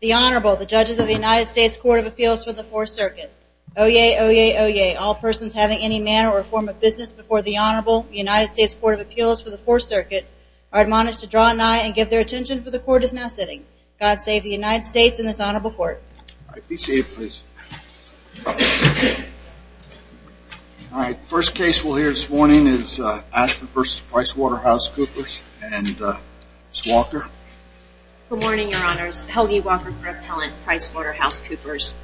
The Honorable, the Judges of the United States Court of Appeals for the Fourth Circuit. Oyez! Oyez! Oyez! All persons having any manner or form of business before the Honorable, the United States Court of Appeals for the Fourth Circuit, are admonished to draw an eye and give their attention, for the Court is now sitting. God save the United States and this Honorable Court. All right. First case we'll hear this morning is Ashford v. PricewaterhouseCoopers and Ms. Walker. Good morning, Your Honors. Helgi Walker for Appellant PricewaterhouseCoopers.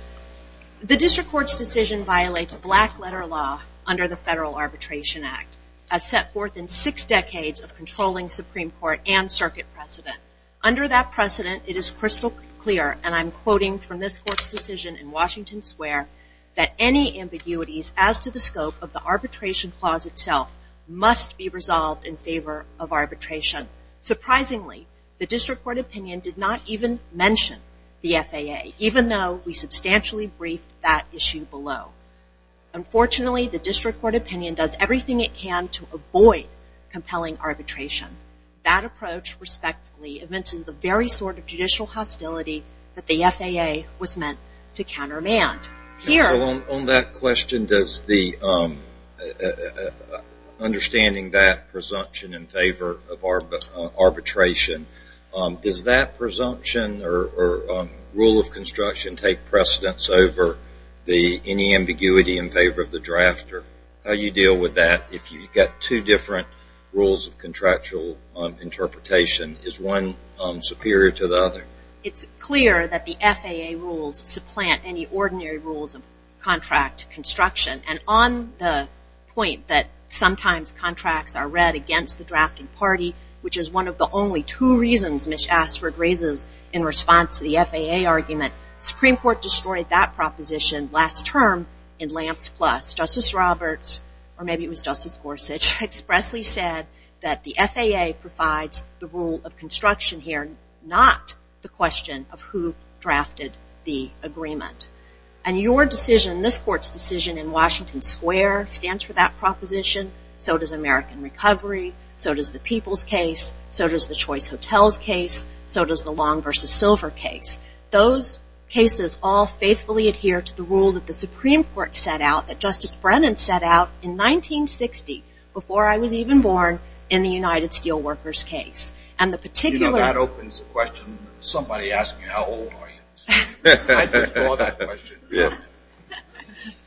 The District Court's decision violates a black letter law under the Federal Arbitration Act, as set forth in six decades of controlling Supreme Court and circuit precedent. Under that precedent, it is crystal clear, and I'm quoting from this Court's decision in Washington Square, that any ambiguities as to the scope of the arbitration clause itself must be resolved in favor of arbitration. Surprisingly, the District Court opinion did not even mention the FAA, even though we substantially briefed that issue below. Unfortunately, the District Court opinion does everything it can to avoid compelling arbitration. That approach, respectfully, evinces the very sort of judicial hostility that the FAA was meant to countermand. On that question, understanding that presumption in favor of arbitration, does that presumption or rule of construction take precedence over any ambiguity in favor of the drafter? How do you deal with that if you've got two different rules of contractual interpretation? Is one superior to the other? It's clear that the FAA rules supplant any ordinary rules of contract construction. And on the point that sometimes contracts are read against the drafting party, which is one of the only two reasons Ms. Ashford raises in response to the FAA argument, Supreme Court destroyed that proposition last term in Lamps Plus. Justice Roberts, or maybe it was Justice Gorsuch, expressly said that the FAA provides the rule of construction here, not the question of who drafted the agreement. And your decision, this Court's decision in Washington Square, stands for that proposition. So does American Recovery. So does the People's case. So does the Choice Hotels case. So does the Long v. Silver case. Those cases all faithfully adhere to the rule that the Supreme Court set out, that Justice Brennan set out in 1960, before I was even born, in the United Steelworkers case. You know, that opens the question. Somebody ask me, how old are you? I just saw that question.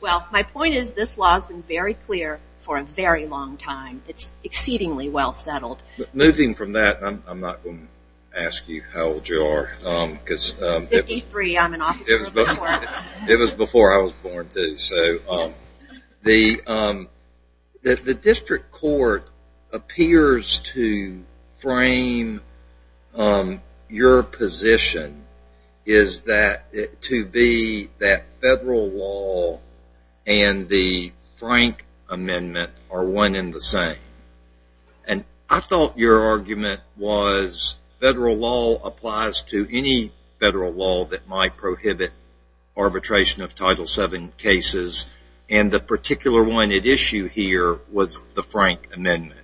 Well, my point is this law has been very clear for a very long time. It's exceedingly well settled. Moving from that, I'm not going to ask you how old you are. Fifty-three, I'm an officer. It was before I was born, too. The district court appears to frame your position to be that federal law and the Frank Amendment are one and the same. And I thought your argument was federal law applies to any federal law that might prohibit arbitration of Title VII cases. And the particular one at issue here was the Frank Amendment.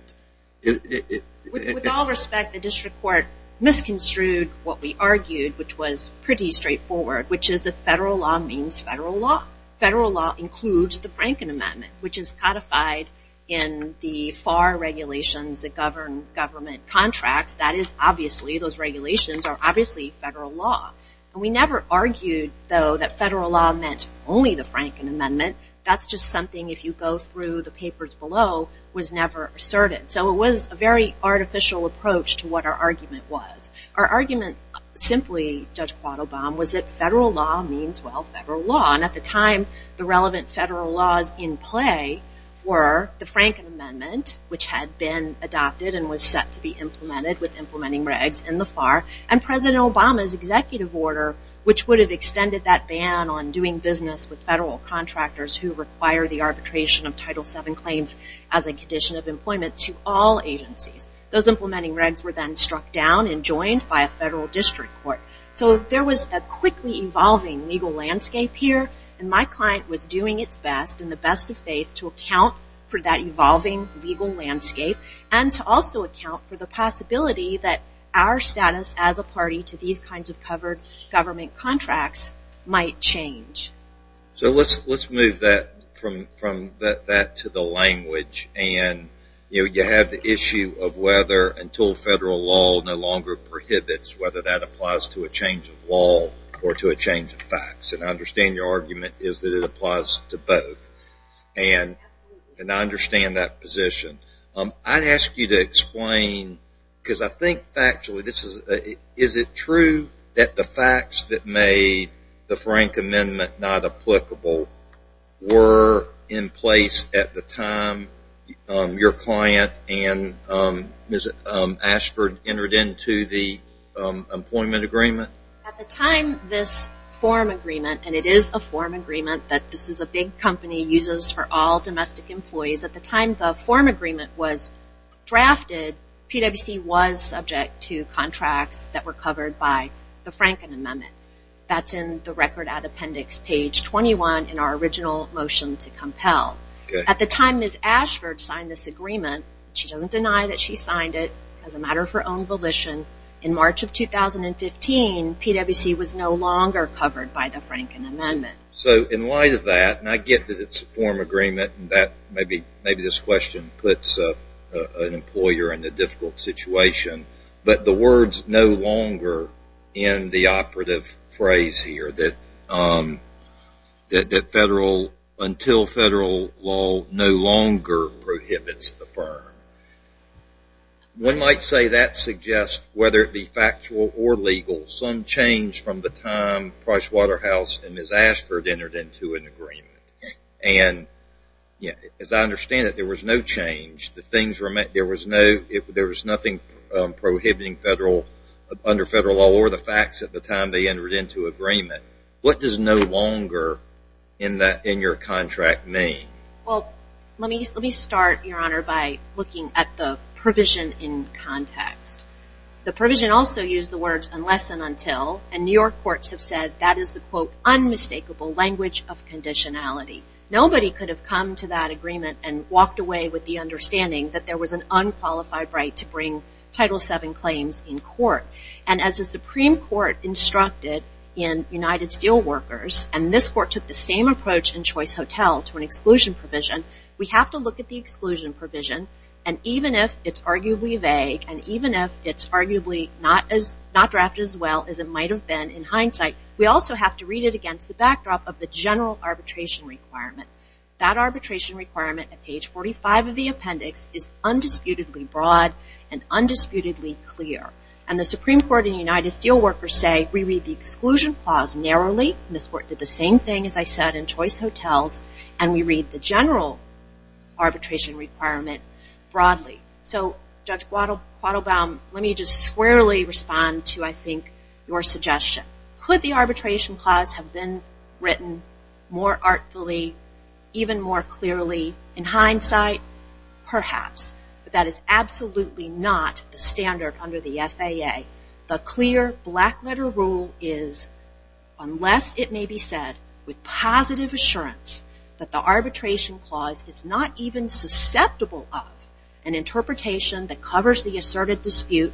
With all respect, the district court misconstrued what we argued, which was pretty straightforward, which is that federal law means federal law. Federal law includes the Frank Amendment, which is codified in the FAR regulations that govern government contracts. Those regulations are obviously federal law. We never argued, though, that federal law meant only the Frank Amendment. That's just something, if you go through the papers below, was never asserted. So it was a very artificial approach to what our argument was. Our argument, simply, Judge Quattlebaum, was that federal law means, well, federal law. And at the time, the relevant federal laws in play were the Frank Amendment, which had been adopted and was set to be implemented with implementing regs in the FAR, and President Obama's executive order, which would have extended that ban on doing business with federal contractors who require the arbitration of Title VII claims as a condition of employment to all agencies. Those implementing regs were then struck down and joined by a federal district court. So there was a quickly evolving legal landscape here. And my client was doing its best, in the best of faith, to account for that evolving legal landscape and to also account for the possibility that our status as a party to these kinds of covered government contracts might change. So let's move that to the language. And, you know, you have the issue of whether until federal law no longer prohibits whether that applies to a change of law or to a change of facts. And I understand your argument is that it applies to both. And I understand that position. I'd ask you to explain, because I think factually, is it true that the facts that made the Frank Amendment not applicable were in place at the time your client and Ms. Ashford entered into the employment agreement? At the time, this form agreement, and it is a form agreement that this is a big company, uses for all domestic employees. At the time the form agreement was drafted, PwC was subject to contracts that were covered by the Franken Amendment. That's in the record at appendix page 21 in our original motion to compel. At the time Ms. Ashford signed this agreement, she doesn't deny that she signed it. As a matter of her own volition, in March of 2015, PwC was no longer covered by the Franken Amendment. So in light of that, and I get that it's a form agreement, and maybe this question puts an employer in a difficult situation, but the words no longer in the operative phrase here, that federal, until federal law, no longer prohibits the firm. One might say that suggests, whether it be factual or legal, some change from the time Price Waterhouse and Ms. Ashford entered into an agreement. And as I understand it, there was no change. There was nothing prohibiting federal, under federal law, or the facts at the time they entered into agreement. What does no longer in your contract mean? Well, let me start, Your Honor, by looking at the provision in context. The provision also used the words unless and until, and New York courts have said that is the quote, unmistakable language of conditionality. Nobody could have come to that agreement and walked away with the understanding that there was an unqualified right to bring Title VII claims in court. And as the Supreme Court instructed in United Steelworkers, and this court took the same approach in Choice Hotel to an exclusion provision, we have to look at the exclusion provision, and even if it's arguably vague, and even if it's arguably not drafted as well as it might have been in hindsight, we also have to read it against the backdrop of the general arbitration requirement. That arbitration requirement at page 45 of the appendix is undisputedly broad and undisputedly clear. And the Supreme Court in United Steelworkers say we read the exclusion clause narrowly, and this court did the same thing, as I said, in Choice Hotels, and we read the general arbitration requirement broadly. So, Judge Quattlebaum, let me just squarely respond to, I think, your suggestion. Could the arbitration clause have been written more artfully, even more clearly, in hindsight? Perhaps. But that is absolutely not the standard under the FAA. The clear black-letter rule is, unless it may be said with positive assurance that the arbitration clause is not even susceptible of an interpretation that covers the asserted dispute,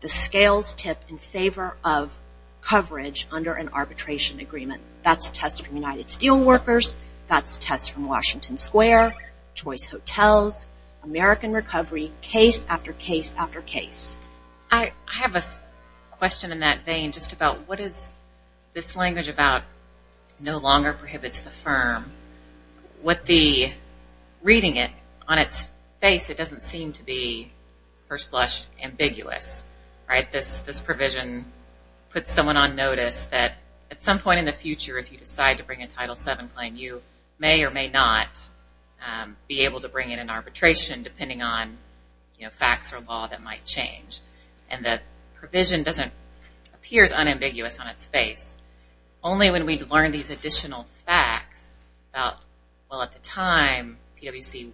the scales tip in favor of coverage under an arbitration agreement. That's a test from United Steelworkers. That's a test from Washington Square, Choice Hotels, American Recovery, case after case after case. I have a question in that vein just about what is this language about no longer prohibits the firm. Reading it on its face, it doesn't seem to be, first blush, ambiguous. This provision puts someone on notice that at some point in the future, if you decide to bring a Title VII claim, you may or may not be able to bring in an arbitration depending on facts or law that might change. And the provision appears unambiguous on its face. Only when we've learned these additional facts about, well, at the time, PwC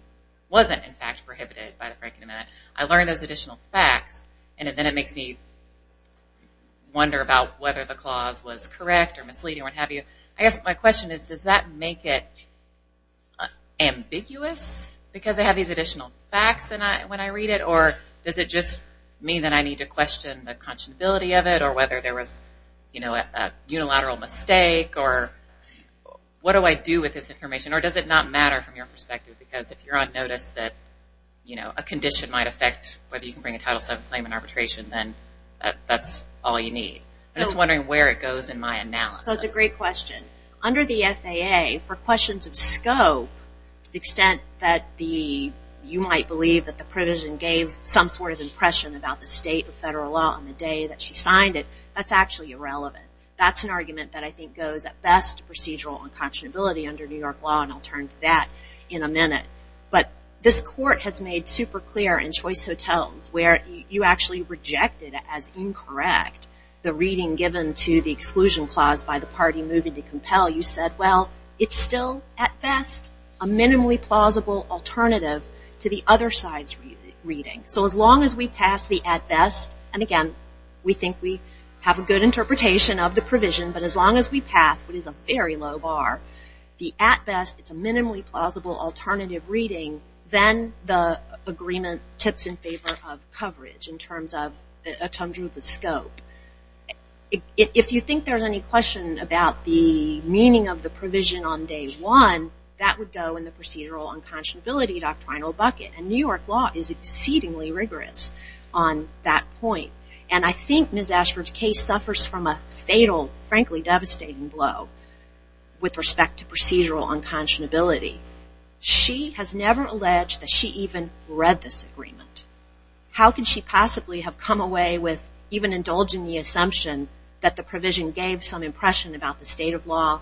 wasn't, in fact, prohibited by the Franklin Amendment. I learned those additional facts, and then it makes me wonder about whether the clause was correct or misleading or what have you. I guess my question is, does that make it ambiguous because I have these additional facts when I read it? Or does it just mean that I need to question the conscionability of it or whether there was a unilateral mistake? Or what do I do with this information? Or does it not matter from your perspective because if you're on notice that a condition might affect whether you can bring a Title VII claim in arbitration, then that's all you need? I'm just wondering where it goes in my analysis. So it's a great question. Under the FAA, for questions of scope, to the extent that you might believe that the provision gave some sort of impression about the state of federal law on the day that she signed it, that's actually irrelevant. That's an argument that I think goes, at best, to procedural unconscionability under New York law, and I'll turn to that in a minute. But this Court has made super clear in Choice Hotels where you actually rejected as incorrect the reading given to the exclusion clause by the party moving to compel. You said, well, it's still, at best, a minimally plausible alternative to the other side's reading. So as long as we pass the at best, and again, we think we have a good interpretation of the provision, but as long as we pass what is a very low bar, the at best, it's a minimally plausible alternative reading, then the agreement tips in favor of coverage in terms of the scope. If you think there's any question about the meaning of the provision on day one, that would go in the procedural unconscionability doctrinal bucket. And New York law is exceedingly rigorous on that point. And I think Ms. Ashford's case suffers from a fatal, frankly devastating blow with respect to procedural unconscionability. She has never alleged that she even read this agreement. How could she possibly have come away with even indulging the assumption that the provision gave some impression about the state of law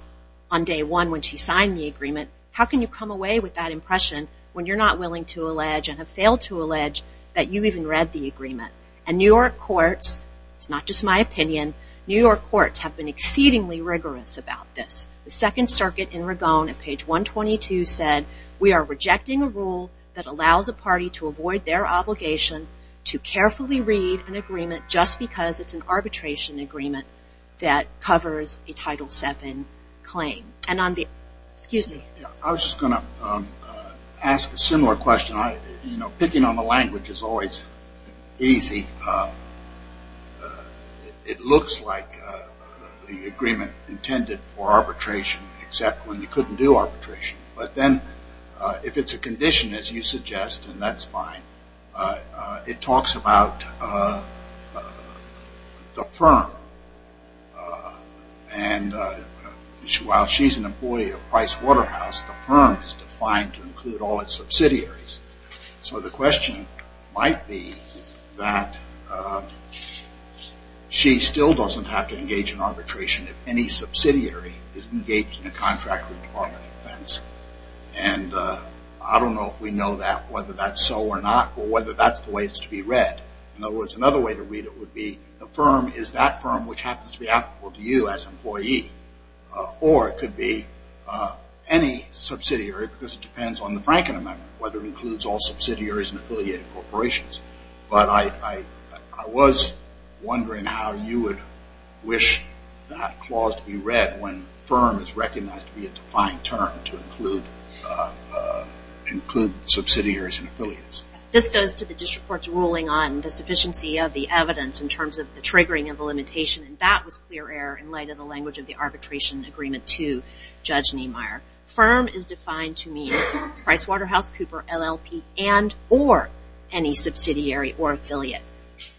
on day one when she signed the agreement? How can you come away with that impression when you're not willing to allege and have failed to allege that you even read the agreement? And New York courts, it's not just my opinion, New York courts have been exceedingly rigorous about this. The Second Circuit in Ragone at page 122 said, we are rejecting a rule that allows a party to avoid their obligation to carefully read an agreement just because it's an arbitration agreement that covers a Title VII claim. Excuse me. I was just going to ask a similar question. You know, picking on the language is always easy. It looks like the agreement intended for arbitration, except when you couldn't do arbitration. But then if it's a condition, as you suggest, and that's fine, it talks about the firm. And while she's an employee of Price Waterhouse, the firm is defined to include all its subsidiaries. So the question might be that she still doesn't have to engage in arbitration if any subsidiary is engaged in a contract with Department of Defense. And I don't know if we know that, whether that's so or not, or whether that's the way it's to be read. In other words, another way to read it would be, the firm is that firm which happens to be applicable to you as an employee. Or it could be any subsidiary because it depends on the Franken Amendment, whether it includes all subsidiaries and affiliated corporations. But I was wondering how you would wish that clause to be read when firm is recognized to be a defined term to include subsidiaries and affiliates. This goes to the district court's ruling on the sufficiency of the evidence in terms of the triggering of the limitation, and that was clear error in light of the language of the arbitration agreement to Judge Niemeyer. Firm is defined to mean Price Waterhouse, Cooper, LLP, and or any subsidiary or affiliate.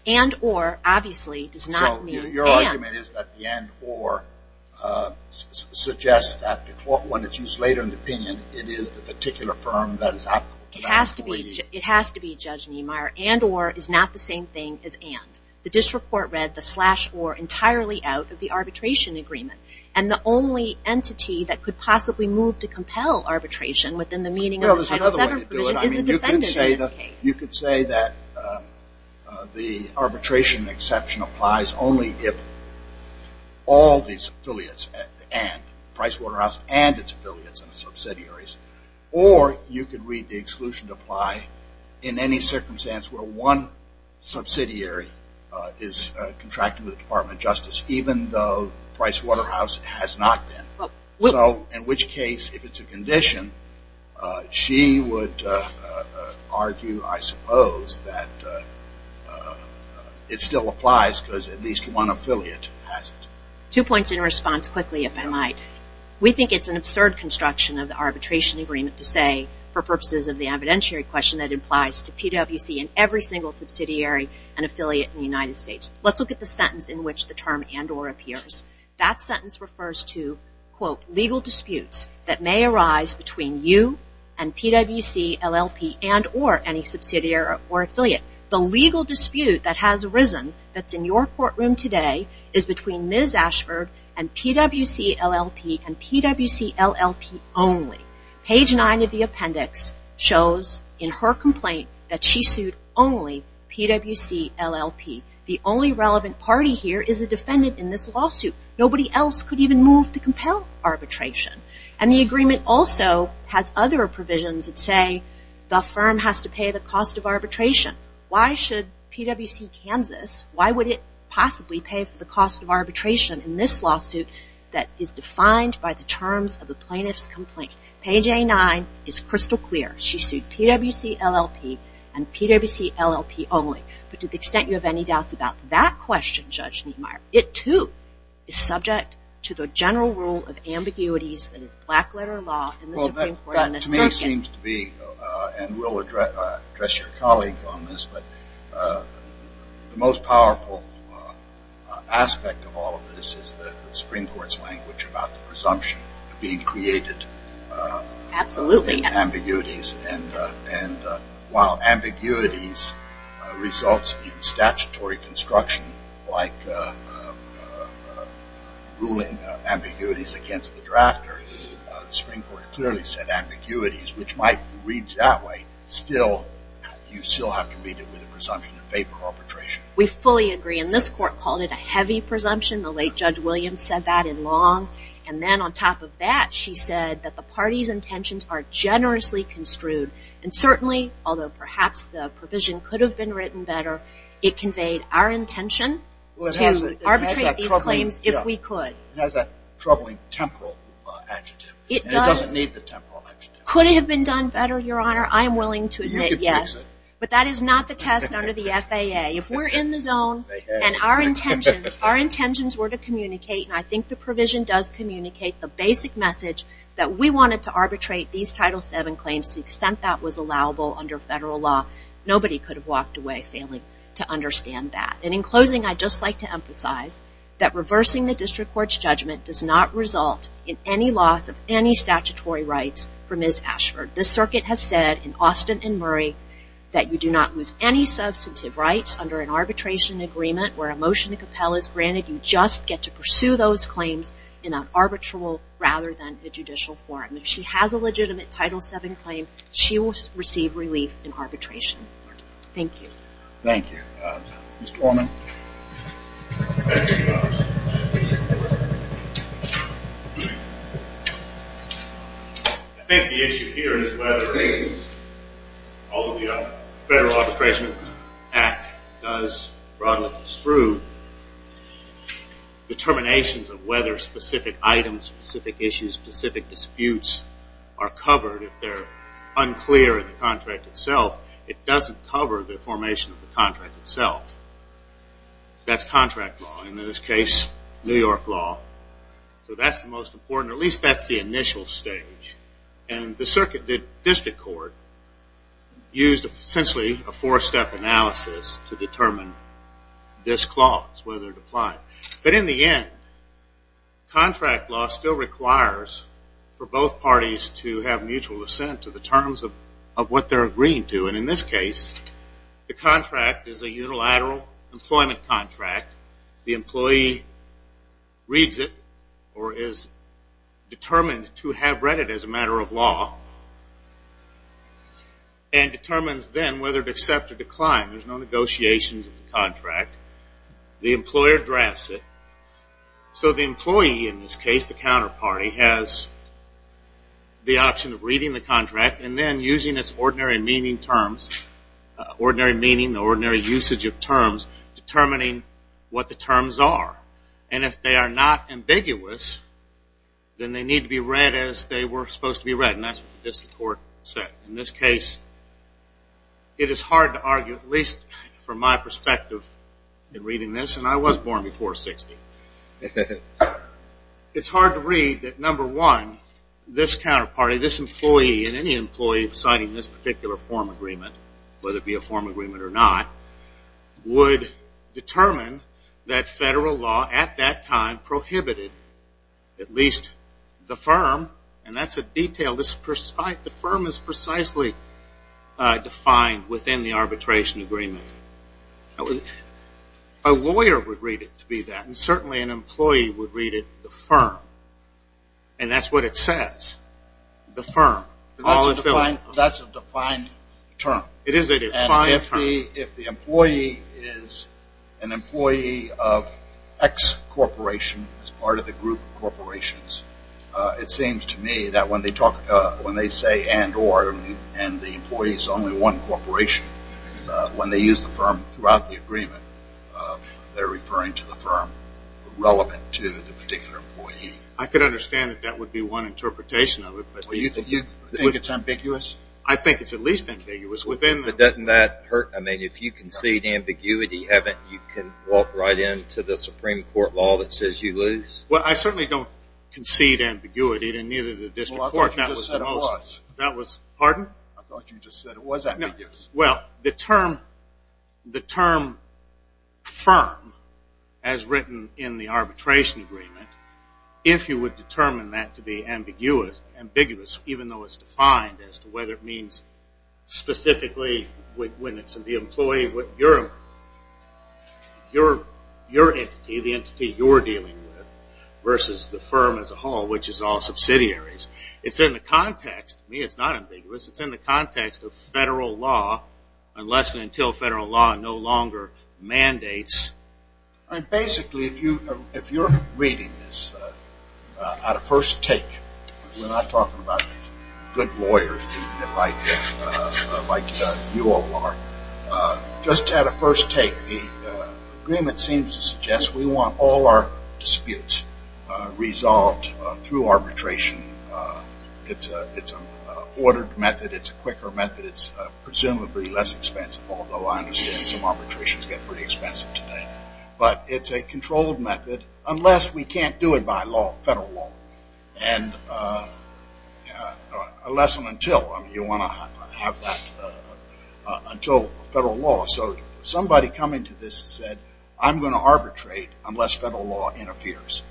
And or, obviously, does not mean and. So your argument is that the and or suggests that when it's used later in the opinion, it is the particular firm that is applicable to that employee. It has to be, Judge Niemeyer. And or is not the same thing as and. The district court read the slash or entirely out of the arbitration agreement. And the only entity that could possibly move to compel arbitration within the meaning of the Title VII provision is the defendant in this case. You could say that the arbitration exception applies only if all these affiliates and, Price Waterhouse and its affiliates and its subsidiaries, or you could read the exclusion to apply in any circumstance where one subsidiary is contracted with the Department of Justice, even though Price Waterhouse has not been. So in which case, if it's a condition, she would argue, I suppose, that it still applies because at least one affiliate has it. Two points in response quickly, if I might. We think it's an absurd construction of the arbitration agreement to say, for purposes of the evidentiary question, that it applies to PwC and every single subsidiary and affiliate in the United States. Let's look at the sentence in which the term and or appears. That sentence refers to, quote, legal disputes that may arise between you and PwC LLP and or any subsidiary or affiliate. The legal dispute that has arisen that's in your courtroom today is between Ms. Ashford and PwC LLP and PwC LLP only. Page 9 of the appendix shows in her complaint that she sued only PwC LLP. The only relevant party here is a defendant in this lawsuit. Nobody else could even move to compel arbitration. And the agreement also has other provisions that say, the firm has to pay the cost of arbitration. Why should PwC Kansas, why would it possibly pay for the cost of arbitration in this lawsuit that is defined by the terms of the plaintiff's complaint? Page A9 is crystal clear. She sued PwC LLP and PwC LLP only. But to the extent you have any doubts about that question, Judge Niemeyer, it too is subject to the general rule of ambiguities that is black letter law in the Supreme Court. To me it seems to be, and we'll address your colleague on this, but the most powerful aspect of all of this is the Supreme Court's language about the presumption of being created. Absolutely. Ambiguities. And while ambiguities results in statutory construction, like ruling ambiguities against the drafter, the Supreme Court clearly said ambiguities, which might read that way, you still have to read it with a presumption in favor of arbitration. We fully agree. And this court called it a heavy presumption. The late Judge Williams said that in Long. And then on top of that, she said that the party's intentions are generously construed. And certainly, although perhaps the provision could have been written better, it conveyed our intention to arbitrate these claims if we could. It has that troubling temporal adjective. And it doesn't need the temporal adjective. Could it have been done better, Your Honor? I am willing to admit yes. But that is not the test under the FAA. If we're in the zone and our intentions were to communicate, and I think the provision does communicate the basic message that we wanted to arbitrate these Title VII claims to the extent that was allowable under federal law, nobody could have walked away failing to understand that. And in closing, I'd just like to emphasize that reversing the district court's judgment does not result in any loss of any statutory rights for Ms. Ashford. The circuit has said in Austin and Murray that you do not lose any substantive rights under an arbitration agreement where a motion to compel is granted. You just get to pursue those claims in an arbitral rather than a judicial forum. If she has a legitimate Title VII claim, she will receive relief in arbitration. Thank you. Thank you. Mr. Warman. I think the issue here is whether all of the Federal Arbitration Act does, broadly sprued, determinations of whether specific items, specific issues, specific disputes are covered. If they're unclear in the contract itself, it doesn't cover the formation of the contract itself. That's contract law. In this case, New York law. So that's the most important, at least that's the initial stage. And the circuit, the district court, used essentially a four-step analysis to determine this clause, whether it applied. But in the end, contract law still requires for both parties to have mutual assent to the terms of what they're agreeing to. And in this case, the contract is a unilateral employment contract. The employee reads it or is determined to have read it as a matter of law and determines then whether to accept or decline. There's no negotiations of the contract. The employer drafts it. So the employee in this case, the counterparty, has the option of reading the contract and then using its ordinary meaning terms, ordinary usage of terms, determining what the terms are. And if they are not ambiguous, then they need to be read as they were supposed to be read, and that's what the district court said. In this case, it is hard to argue, at least from my perspective in reading this, and I was born before 60. It's hard to read that, number one, this counterparty, this employee, and any employee signing this particular form agreement, whether it be a form agreement or not, would determine that federal law at that time prohibited at least the firm, and that's a detail. The firm is precisely defined within the arbitration agreement. A lawyer would read it to be that, and certainly an employee would read it the firm, and that's what it says, the firm. That's a defined term. It is a defined term. If the employee is an employee of X corporation as part of the group of corporations, it seems to me that when they say and, or, and the employee is only one corporation, when they use the firm throughout the agreement, they're referring to the firm relevant to the particular employee. I could understand that that would be one interpretation of it, but do you think it's ambiguous? I think it's at least ambiguous. But doesn't that hurt? I mean, if you concede ambiguity, haven't you walked right into the Supreme Court law that says you lose? Well, I certainly don't concede ambiguity to neither the district court. Well, I thought you just said it was. Pardon? I thought you just said it was ambiguous. Well, the term firm, as written in the arbitration agreement, if you would determine that to be ambiguous, even though it's defined as to whether it means specifically when it's the employee, your entity, the entity you're dealing with, versus the firm as a whole, which is all subsidiaries, it's in the context, to me, it's not ambiguous. Unless and until federal law no longer mandates. Basically, if you're reading this at a first take, we're not talking about good lawyers like you all are. Just at a first take, the agreement seems to suggest we want all our disputes resolved through arbitration. It's an ordered method. It's a quicker method. It's presumably less expensive, although I understand some arbitrations get pretty expensive today. But it's a controlled method unless we can't do it by federal law. And unless and until you want to have that until federal law. So somebody coming to this said, I'm going to arbitrate unless federal law interferes.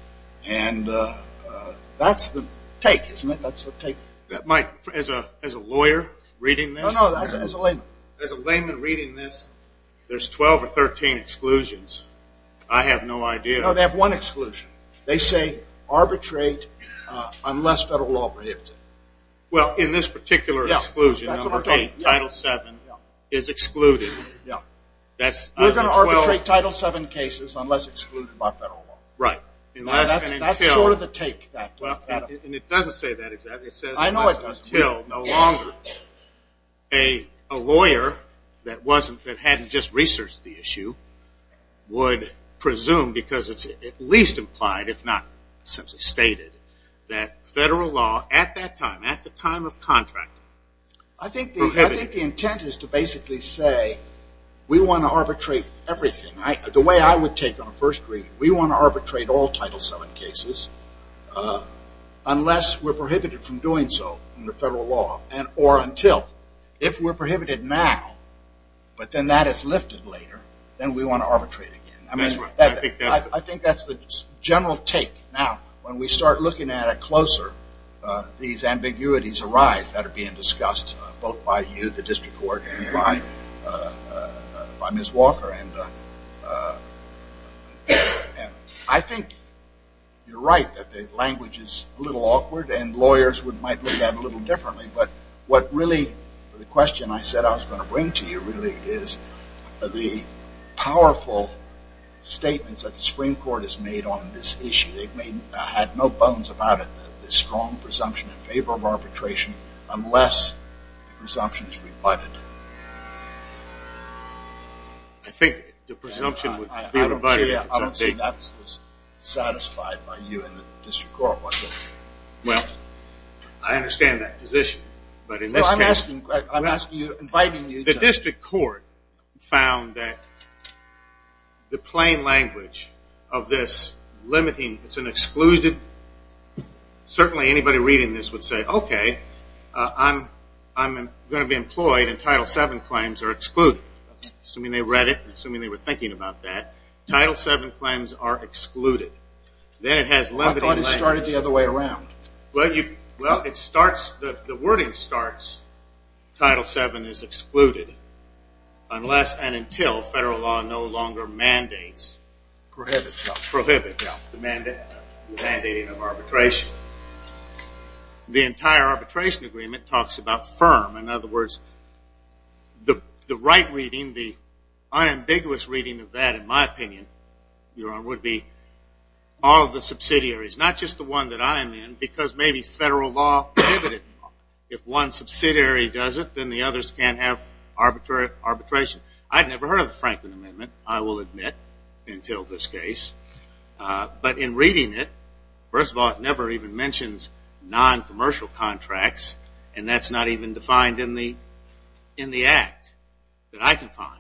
And that's the take, isn't it? That's the take. As a lawyer reading this? No, no, as a layman. As a layman reading this, there's 12 or 13 exclusions. I have no idea. No, they have one exclusion. They say arbitrate unless federal law prohibits it. Well, in this particular exclusion, Title VII is excluded. You're going to arbitrate Title VII cases unless excluded by federal law. Right. That's sort of the take. And it doesn't say that exactly. It says unless until no longer. A lawyer that hadn't just researched the issue would presume, because it's at least implied if not simply stated, that federal law at that time, at the time of contract, prohibited it. I think the intent is to basically say we want to arbitrate everything. The way I would take it on a first read, we want to arbitrate all Title VII cases unless we're prohibited from doing so under federal law or until. If we're prohibited now, but then that is lifted later, then we want to arbitrate again. I think that's the general take. Now, when we start looking at it closer, these ambiguities arise that are being discussed both by you, the district court, and by Ms. Walker. I think you're right that the language is a little awkward, and lawyers might look at it a little differently. But what really the question I said I was going to bring to you really is the powerful statements that the Supreme Court has made on this issue. They've had no bones about it, the strong presumption in favor of arbitration, unless the presumption is rebutted. I think the presumption would be rebutted. I don't see that as satisfied by you and the district court. Well, I understand that position. I'm inviting you to. The district court found that the plain language of this limiting, certainly anybody reading this would say, okay, I'm going to be employed and Title VII claims are excluded, assuming they read it and assuming they were thinking about that. Title VII claims are excluded. I thought it started the other way around. Well, the wording starts, Title VII is excluded, unless and until federal law no longer mandates. Prohibits. Prohibits the mandating of arbitration. The entire arbitration agreement talks about firm. In other words, the right reading, the unambiguous reading of that in my opinion, Your Honor, would be all of the subsidiaries, not just the one that I'm in, because maybe federal law prohibits it. If one subsidiary does it, then the others can't have arbitration. I've never heard of the Franklin Amendment, I will admit, until this case. But in reading it, first of all, it never even mentions noncommercial contracts, and that's not even defined in the act that I can find.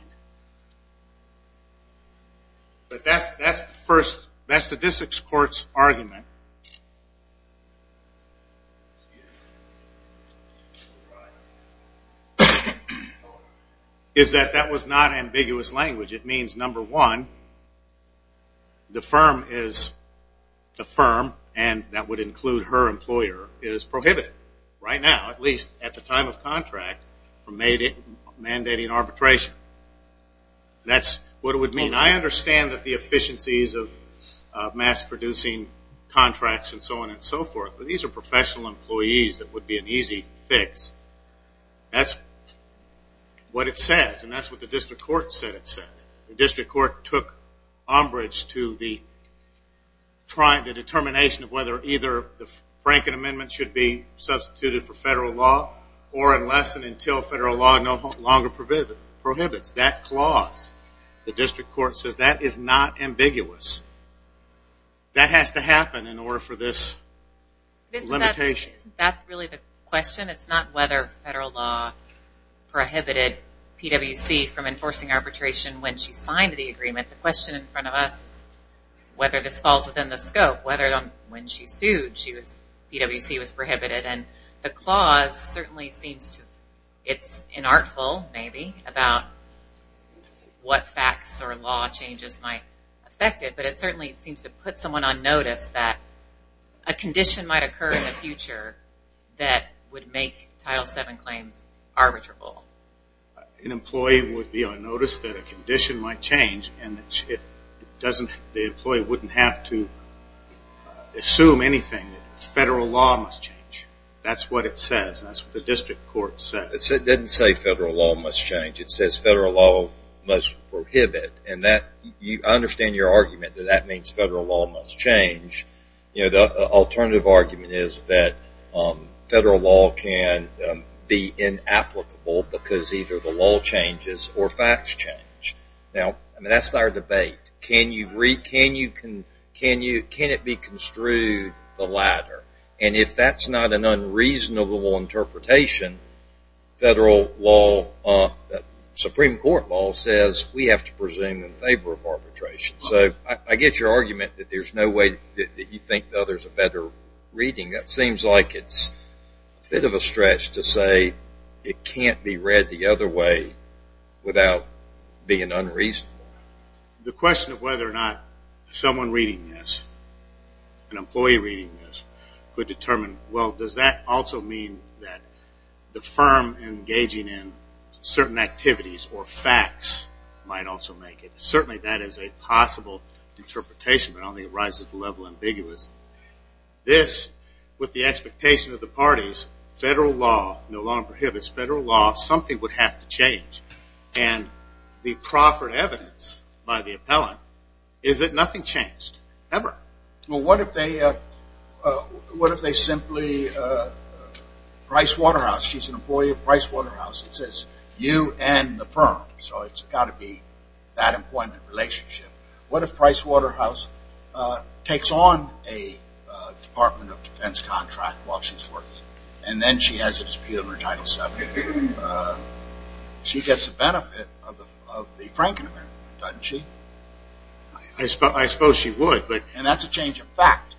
But that's the first, that's the district court's argument. Excuse me. Is that that was not ambiguous language. It means, number one, the firm is a firm, and that would include her employer, is prohibited right now, at least at the time of contract, from mandating arbitration. That's what it would mean. I mean, I understand that the efficiencies of mass-producing contracts and so on and so forth, but these are professional employees that would be an easy fix. That's what it says, and that's what the district court said it said. The district court took umbrage to the determination of whether either the Franklin Amendment should be substituted for federal law or unless and until federal law no longer prohibits that clause. The district court says that is not ambiguous. That has to happen in order for this limitation. Isn't that really the question? It's not whether federal law prohibited PwC from enforcing arbitration when she signed the agreement. The question in front of us is whether this falls within the scope, whether when she sued PwC was prohibited. And the clause certainly seems to, it's inartful, maybe, about what facts or law changes might affect it, but it certainly seems to put someone on notice that a condition might occur in the future that would make Title VII claims arbitrable. An employee would be on notice that a condition might change and the employee wouldn't have to assume anything. Federal law must change. That's what it says. That's what the district court said. It didn't say federal law must change. It says federal law must prohibit. And I understand your argument that that means federal law must change. The alternative argument is that federal law can be inapplicable because either the law changes or facts change. Now, that's our debate. Can it be construed the latter? And if that's not an unreasonable interpretation, federal law, Supreme Court law, says we have to presume in favor of arbitration. So I get your argument that there's no way that you think the other's a better reading. That seems like it's a bit of a stretch to say it can't be read the other way without being unreasonable. The question of whether or not someone reading this, an employee reading this, could determine, well, does that also mean that the firm engaging in certain activities or facts might also make it? Certainly that is a possible interpretation, but I don't think it rises to the level of ambiguous. This, with the expectation of the parties, federal law no longer prohibits federal law. Something would have to change. And the proffered evidence by the appellant is that nothing changed, ever. Well, what if they simply, Price Waterhouse, she's an employee of Price Waterhouse, it says you and the firm, so it's got to be that employment relationship. What if Price Waterhouse takes on a Department of Defense contract while she's working, and then she has a dispute in her Title VII? She gets the benefit of the Franken Amendment, doesn't she? I suppose she would. And that's a change in fact.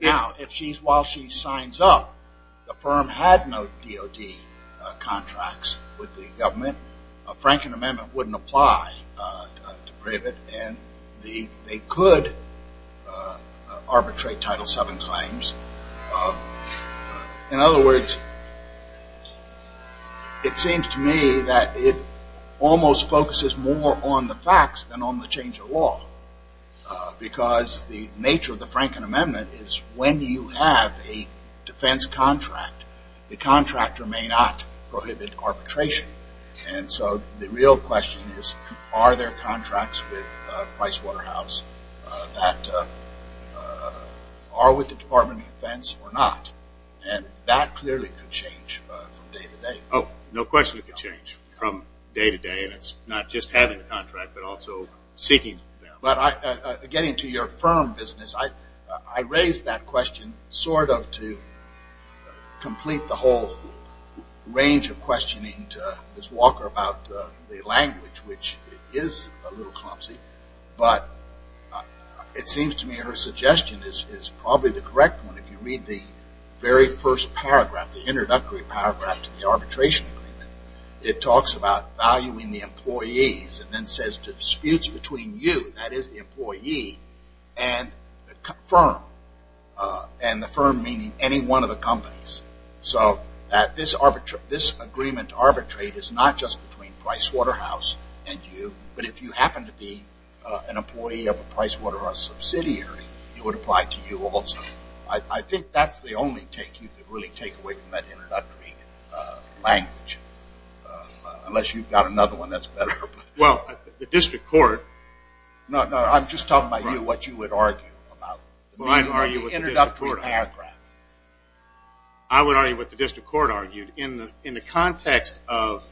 Now, while she signs up, the firm had no DOD contracts with the government. A Franken Amendment wouldn't apply to Privet, and they could arbitrate Title VII claims. In other words, it seems to me that it almost focuses more on the facts than on the change of law. Because the nature of the Franken Amendment is when you have a defense contract, the contractor may not prohibit arbitration. And so the real question is, are there contracts with Price Waterhouse that are with the Department of Defense or not? And that clearly could change from day to day. Oh, no question it could change from day to day, and it's not just having a contract, but also seeking them. Getting to your firm business, I raised that question sort of to complete the whole range of questioning to Ms. Walker about the language, which is a little clumsy, but it seems to me her suggestion is probably the correct one. If you read the very first paragraph, the introductory paragraph to the arbitration agreement, it talks about valuing the employees and then says disputes between you, that is the employee, and the firm, and the firm meaning any one of the companies. So this agreement to arbitrate is not just between Price Waterhouse and you, but if you happen to be an employee of a Price Waterhouse subsidiary, it would apply to you also. I think that's the only take you could really take away from that introductory language, unless you've got another one that's better. Well, the district court... No, no, I'm just talking about you, what you would argue about the introductory paragraph. I would argue what the district court argued. In the context of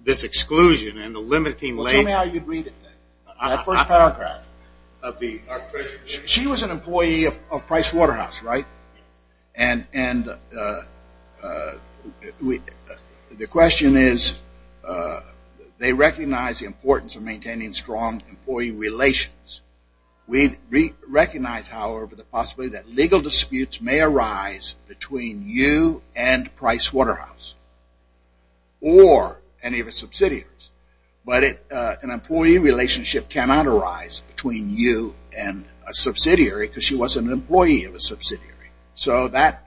this exclusion and the limiting language... Well, tell me how you'd read it then, the first paragraph. She was an employee of Price Waterhouse, right? And the question is, they recognize the importance of maintaining strong employee relations. We recognize, however, the possibility that legal disputes may arise between you and Price Waterhouse or any of its subsidiaries. But an employee relationship cannot arise between you and a subsidiary because she was an employee of a subsidiary. So that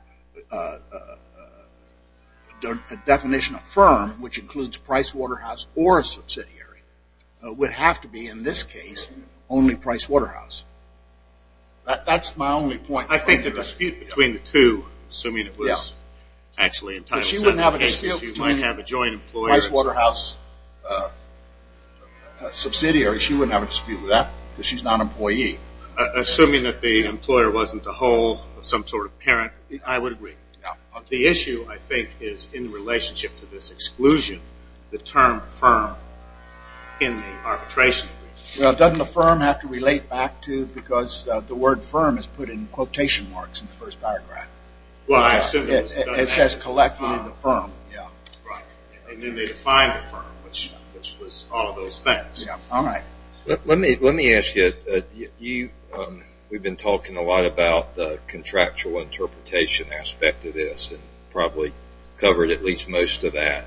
definition of firm, which includes Price Waterhouse or a subsidiary, would have to be, in this case, only Price Waterhouse. That's my only point. I think the dispute between the two, assuming it was actually entitled to... She wouldn't have a dispute between Price Waterhouse subsidiaries. She wouldn't have a dispute with that because she's not an employee. Assuming that the employer wasn't the whole of some sort of parent, I would agree. The issue, I think, is in relationship to this exclusion, the term firm in the arbitration. Well, doesn't the firm have to relate back to... The word firm is put in quotation marks in the first paragraph. It says, collectively, the firm. And then they define the firm, which was all of those things. Let me ask you, we've been talking a lot about the contractual interpretation aspect of this and probably covered at least most of that.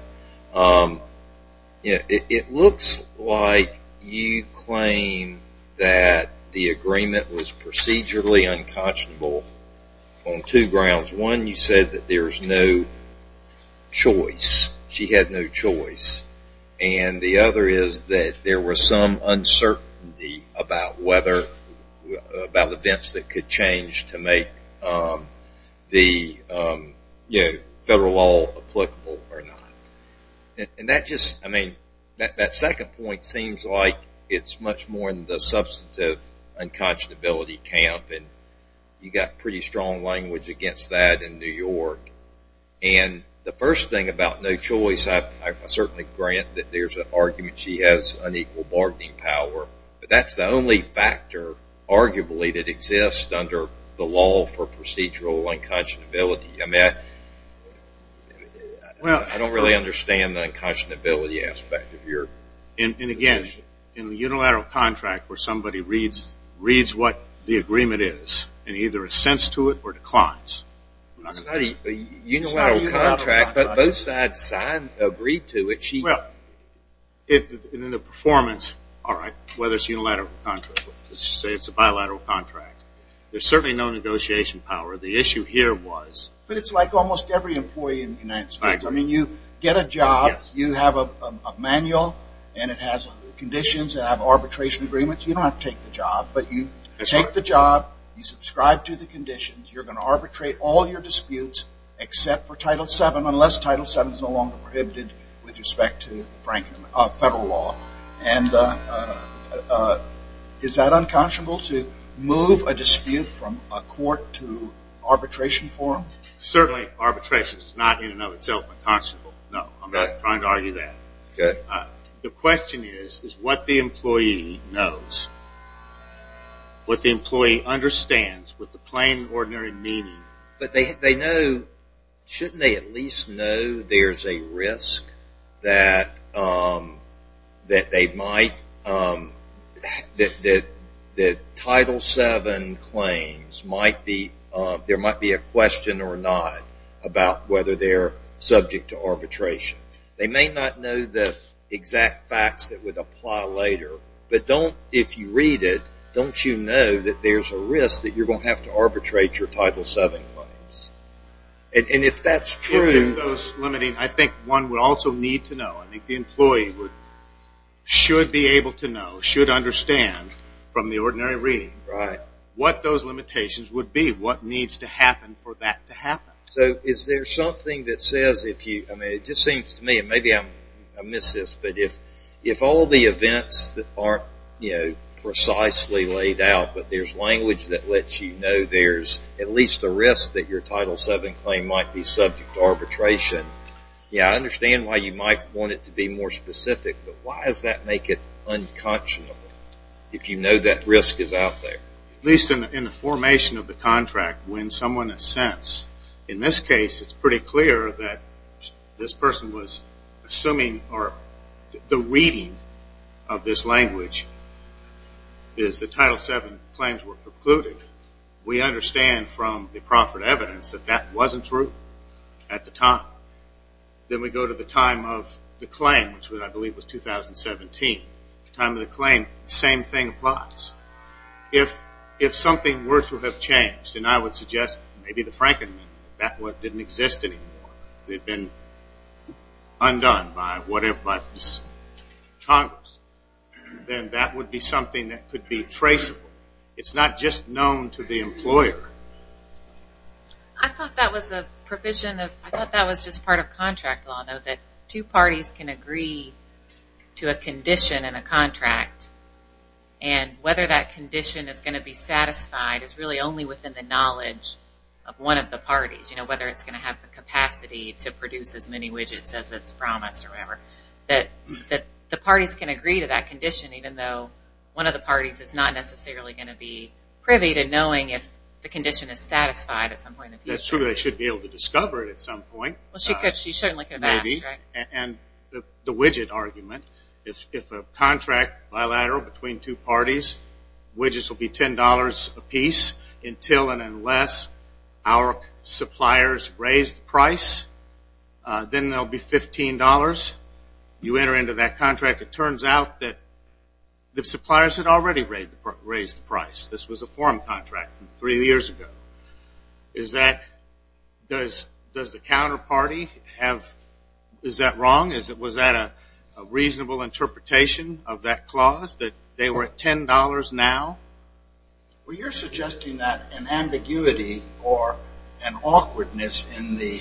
It looks like you claim that the agreement was procedurally unconscionable on two grounds. One, you said that there's no choice. She had no choice. And the other is that there was some uncertainty about events that could change to make the federal law applicable or not. And that second point seems like it's much more in the substantive unconscionability camp. You've got pretty strong language against that in New York. And the first thing about no choice, I certainly grant that there's an argument she has unequal bargaining power. But that's the only factor, arguably, that exists under the law for procedural unconscionability. I mean, I don't really understand the unconscionability aspect of your position. And, again, in a unilateral contract where somebody reads what the agreement is and either assents to it or declines. A unilateral contract, but both sides agreed to it. Well, in the performance, all right, whether it's a unilateral contract. Let's just say it's a bilateral contract. There's certainly no negotiation power. The issue here was. But it's like almost every employee in the United States. I mean, you get a job. You have a manual. And it has conditions that have arbitration agreements. You don't have to take the job. But you take the job. You subscribe to the conditions. You're going to arbitrate all your disputes except for Title VII unless Title VII is no longer prohibited with respect to federal law. And is that unconscionable to move a dispute from a court to arbitration forum? Certainly arbitration is not in and of itself unconscionable. No. I'm not trying to argue that. Okay. The question is, is what the employee knows, what the employee understands with the plain, ordinary meaning. But they know, shouldn't they at least know there's a risk that they might, that Title VII claims might be, there might be a question or not about whether they're subject to arbitration. They may not know the exact facts that would apply later. But don't, if you read it, don't you know that there's a risk that you're going to have to arbitrate your Title VII claims. And if that's true. If those limiting, I think one would also need to know. I think the employee would, should be able to know, should understand from the ordinary reading what those limitations would be, what needs to happen for that to happen. So is there something that says if you, I mean, it just seems to me, and maybe I miss this, but if all the events that aren't, you know, there's at least a risk that your Title VII claim might be subject to arbitration, yeah, I understand why you might want it to be more specific. But why does that make it unconscionable, if you know that risk is out there? At least in the formation of the contract, when someone assents. In this case, it's pretty clear that this person was assuming, or the reading of this language is the Title VII claims were precluded. We understand from the proffered evidence that that wasn't true at the time. Then we go to the time of the claim, which I believe was 2017. The time of the claim, the same thing applies. If something were to have changed, and I would suggest maybe the Frankenman, that didn't exist anymore. It had been undone by whatever Congress. Then that would be something that could be traceable. It's not just known to the employer. I thought that was a provision of, I thought that was just part of contract law, that two parties can agree to a condition in a contract, and whether that condition is going to be satisfied is really only within the parties, whether it's going to have the capacity to produce as many widgets as it's promised or whatever. The parties can agree to that condition, even though one of the parties is not necessarily going to be privy to knowing if the condition is satisfied. That's true. They should be able to discover it at some point. She certainly could have asked. The widget argument, if a contract bilateral between two parties, widgets will be $10 a piece until and unless our suppliers raise the price. Then they'll be $15. You enter into that contract. It turns out that the suppliers had already raised the price. This was a forum contract three years ago. Is that, does the counterparty have, is that wrong? Was that a reasonable interpretation of that clause, that they were at $10 now? Well, you're suggesting that an ambiguity or an awkwardness in the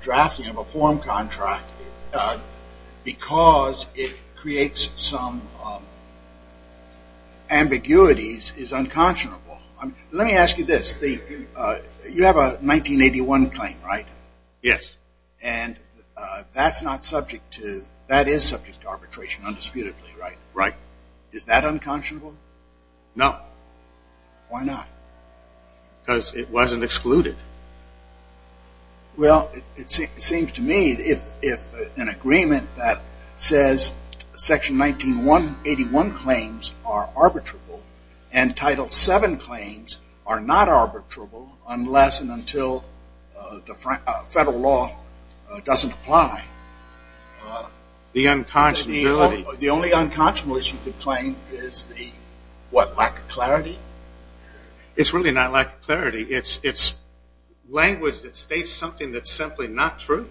drafting of a forum contract because it creates some ambiguities is unconscionable. Let me ask you this. You have a 1981 claim, right? Yes. And that's not subject to, that is subject to arbitration, undisputedly, right? Right. Is that unconscionable? No. Why not? Because it wasn't excluded. Well, it seems to me if an agreement that says Section 1981 claims are arbitrable and Title VII claims are not arbitrable unless and until the federal law doesn't apply. The unconscionability. The only unconscionable issue you could claim is the, what, lack of clarity? It's really not lack of clarity. It's language that states something that's simply not true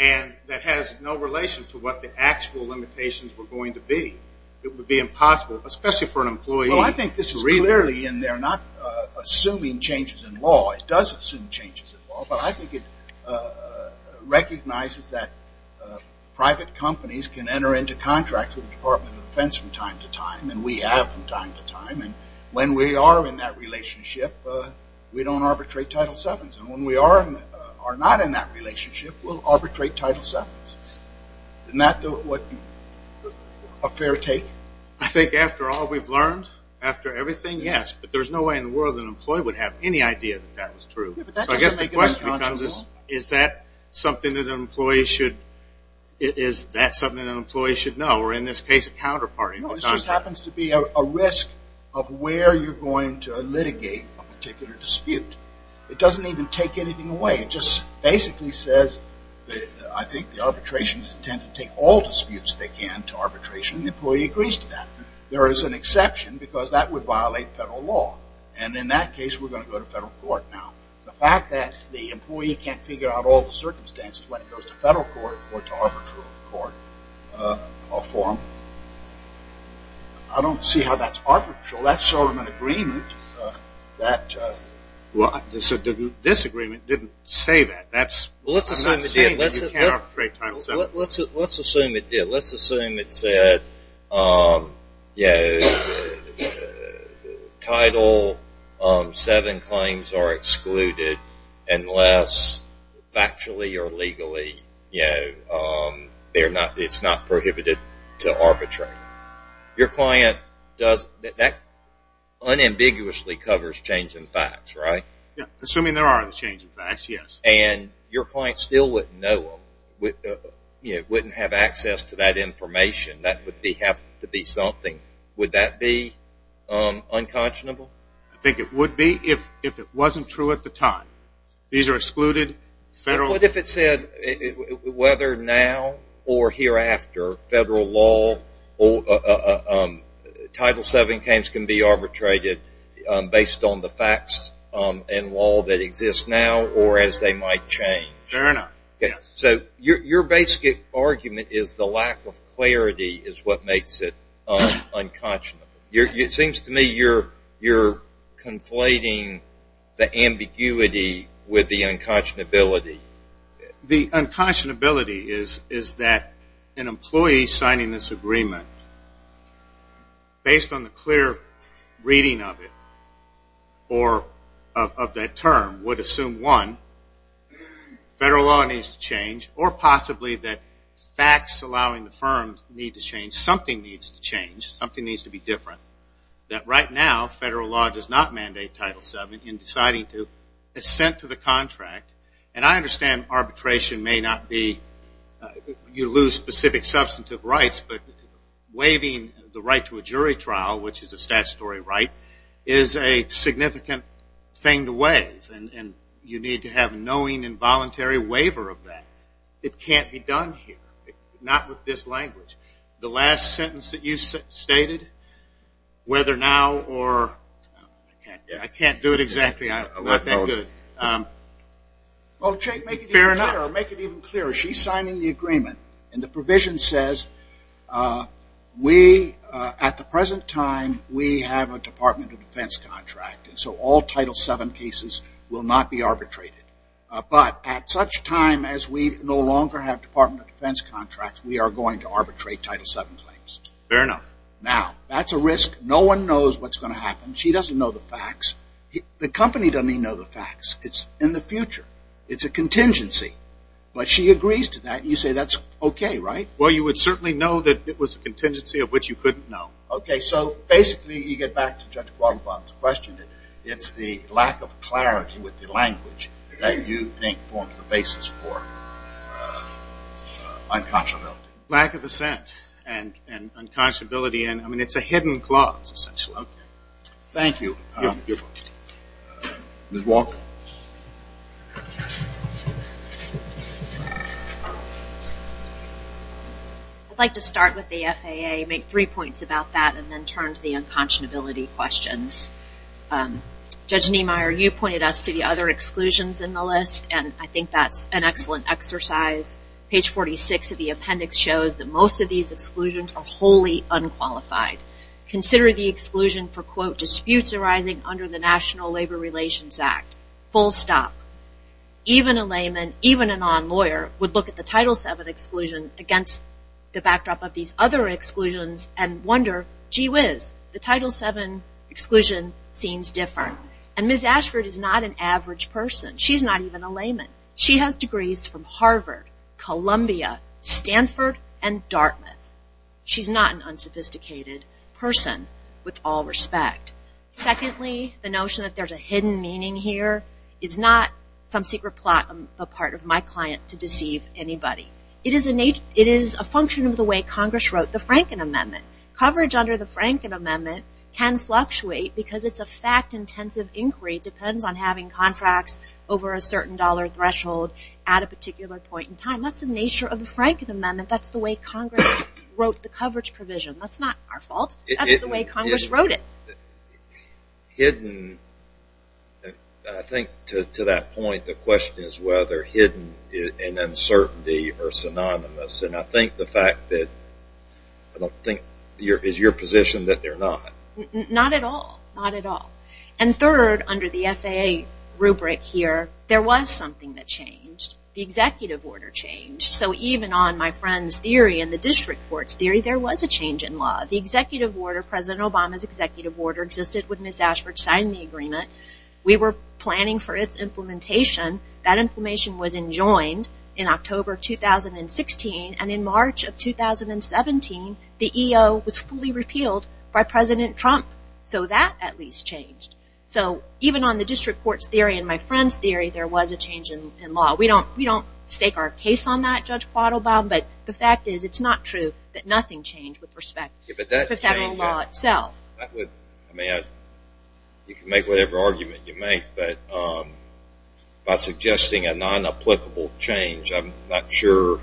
and that has no relation to what the actual limitations were going to be. It would be impossible, especially for an employee. Well, I think this is clearly in there not assuming changes in law. It does assume changes in law. But I think it recognizes that private companies can enter into contracts with the Department of Defense from time to time, and we have from time to time. And when we are in that relationship, we don't arbitrate Title VII's. And when we are not in that relationship, we'll arbitrate Title VII's. Isn't that a fair take? I think after all we've learned, after everything, yes. But there's no way in the world an employee would have any idea that that was true. So I guess the question becomes is that something that an employee should know, or in this case a counterparty? No, it just happens to be a risk of where you're going to litigate a particular dispute. It doesn't even take anything away. It just basically says I think the arbitration is intended to take all disputes they can to arbitration, and the employee agrees to that. There is an exception because that would violate federal law. And in that case, we're going to go to federal court now. The fact that the employee can't figure out all the circumstances when it goes to federal court or to arbitral court or forum, I don't see how that's arbitral. That's sort of an agreement. Disagreement didn't say that. I'm not saying that you can't arbitrate Title VII. Let's assume it did. Let's assume it said Title VII claims are excluded unless factually or legally it's not prohibited to arbitrate. Your client, that unambiguously covers changing facts, right? Assuming there are changing facts, yes. And your client still wouldn't know them, wouldn't have access to that information. That would have to be something. Would that be unconscionable? I think it would be if it wasn't true at the time. These are excluded. What if it said whether now or hereafter federal law or Title VII claims can be arbitrated based on the facts and law that exists now or as they might change? Fair enough. So your basic argument is the lack of clarity is what makes it unconscionable. It seems to me you're conflating the ambiguity with the unconscionability. The unconscionability is that an employee signing this agreement, based on the clear reading of it or of that term, would assume, one, federal law needs to change or possibly that facts allowing the firm need to change. Something needs to change. Something needs to be different. That right now federal law does not mandate Title VII in deciding to assent to the contract. And I understand arbitration may not be you lose specific substantive rights, but waiving the right to a jury trial, which is a statutory right, is a significant thing to waive. And you need to have knowing and voluntary waiver of that. It can't be done here. Not with this language. The last sentence that you stated, whether now or, I can't do it exactly. Well, Jake, make it even clearer. She's signing the agreement, and the provision says we, at the present time, we have a Department of Defense contract. So all Title VII cases will not be arbitrated. But at such time as we no longer have Department of Defense contracts, we are going to arbitrate Title VII claims. Fair enough. Now, that's a risk. No one knows what's going to happen. She doesn't know the facts. The company doesn't even know the facts. It's in the future. It's a contingency. But she agrees to that, and you say that's okay, right? Well, you would certainly know that it was a contingency of which you couldn't know. Okay. So basically you get back to Judge Guadalupe's question. It's the lack of clarity with the language that you think forms the basis for unconscionability. Lack of assent and unconscionability. I mean, it's a hidden clause, essentially. Okay. Thank you. You're welcome. Ms. Walker? I'd like to start with the FAA, make three points about that, and then turn to the unconscionability questions. Judge Niemeyer, you pointed us to the other exclusions in the list, and I think that's an excellent exercise. Page 46 of the appendix shows that most of these exclusions are wholly unqualified. Consider the exclusion for, quote, disputes arising under the National Labor Relations Act. Full stop. Even a layman, even a non-lawyer, would look at the Title VII exclusion against the backdrop of these other exclusions. Consider gee whiz, the Title VII exclusion seems different. And Ms. Ashford is not an average person. She's not even a layman. She has degrees from Harvard, Columbia, Stanford, and Dartmouth. She's not an unsophisticated person with all respect. Secondly, the notion that there's a hidden meaning here is not some secret plot on the part of my client to deceive anybody. It is a function of the way Congress wrote the Franken Amendment. Coverage under the Franken Amendment can fluctuate because it's a fact intensive inquiry. It depends on having contracts over a certain dollar threshold at a particular point in time. That's the nature of the Franken Amendment. That's the way Congress wrote the coverage provision. That's not our fault. That's the way Congress wrote it. Hidden, I think to that point, the question is whether hidden and uncertainty are synonymous. And I think the fact that I don't think, is your position that they're not? Not at all. Not at all. And third, under the FAA rubric here, there was something that changed. The executive order changed. So even on my friend's theory and the district court's theory, there was a change in law. The executive order, President Obama's executive order, existed with Ms. Ashford signing the agreement. We were planning for its implementation. That implementation was enjoined in October 2016. And in March of 2017, the EO was fully repealed by President Trump. So that at least changed. So even on the district court's theory and my friend's theory, there was a change in law. We don't stake our case on that, Judge Quattlebaum, but the fact is it's not true that nothing changed with respect to federal law itself. I mean, you can make whatever argument you make, but by suggesting a non-applicable change, I'm not sure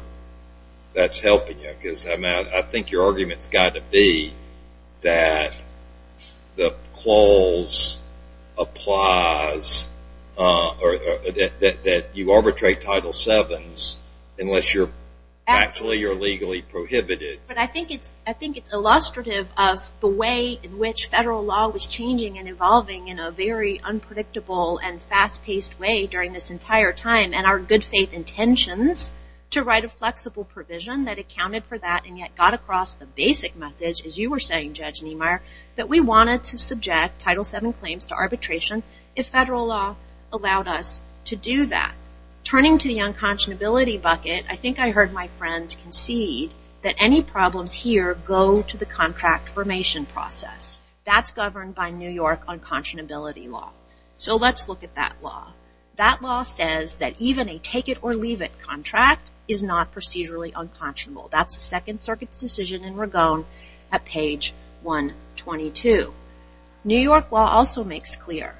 that's helping you. Because I think your argument's got to be that the clause applies, or that you arbitrate Title VII's unless you're actually or legally prohibited. But I think it's illustrative of the way in which federal law was changing and evolving in a very unpredictable and fast-paced way during this entire time, and our good faith intentions to write a flexible provision that accounted for that and yet got across the basic message, as you were saying, Judge Niemeyer, that we wanted to subject Title VII claims to arbitration if federal law allowed us to do that. Turning to the unconscionability bucket, I think I heard my friend concede that any problems here go to the contract formation process. That's governed by New York unconscionability law. So let's look at that law. That law says that even a take-it-or-leave-it contract is not procedurally unconscionable. That's the Second Circuit's decision in Ragone at page 122. New York law also makes clear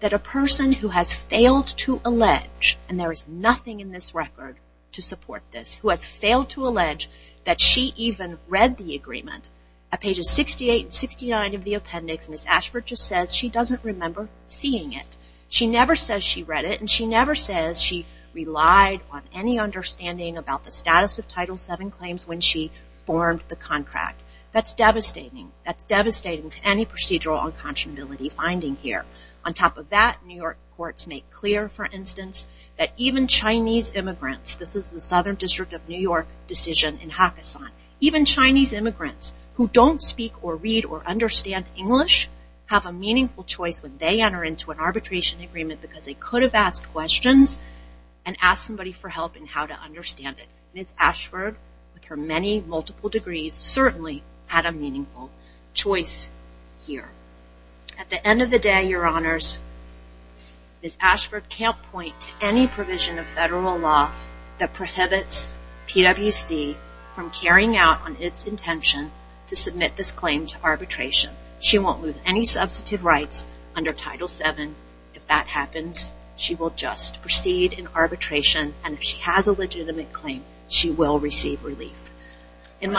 that a person who has failed to allege, and there is nothing in this record to support this, who has failed to allege that she even read the agreement, at pages 68 and 69 of the appendix, Ms. Ashford just says she doesn't remember seeing it. She never says she read it, and she never says she relied on any understanding about the status of Title VII claims when she formed the contract. That's devastating. That's devastating to any procedural unconscionability finding here. On top of that, New York courts make clear, for instance, that even Chinese immigrants, this is the Southern District of New York decision in Hakkasan, even Chinese immigrants who don't speak or read or understand English have a meaningful choice when they enter into an arbitration agreement because they could have asked questions and asked somebody for help in how to understand it. Ms. Ashford, with her many multiple degrees, certainly had a meaningful choice here. At the end of the day, your honors, Ms. Ashford can't point to any provision of federal law that prohibits PwC from carrying out on its intention to submit this claim to arbitration. She won't lose any substantive rights under Title VII. If that happens, she will just proceed in arbitration, and if she has a legitimate claim, she will receive relief. Is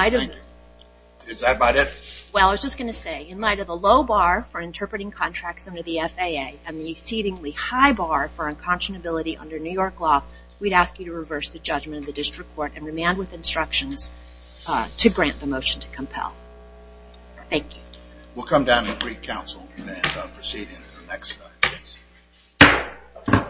that about it? Well, I was just going to say, in light of the low bar for interpreting contracts under the FAA and the exceedingly high bar for unconscionability under New York law, we'd ask you to reverse the judgment of the district court and remand with instructions to grant the motion to compel. Thank you. We'll come down to the Greek Council and proceed into the next.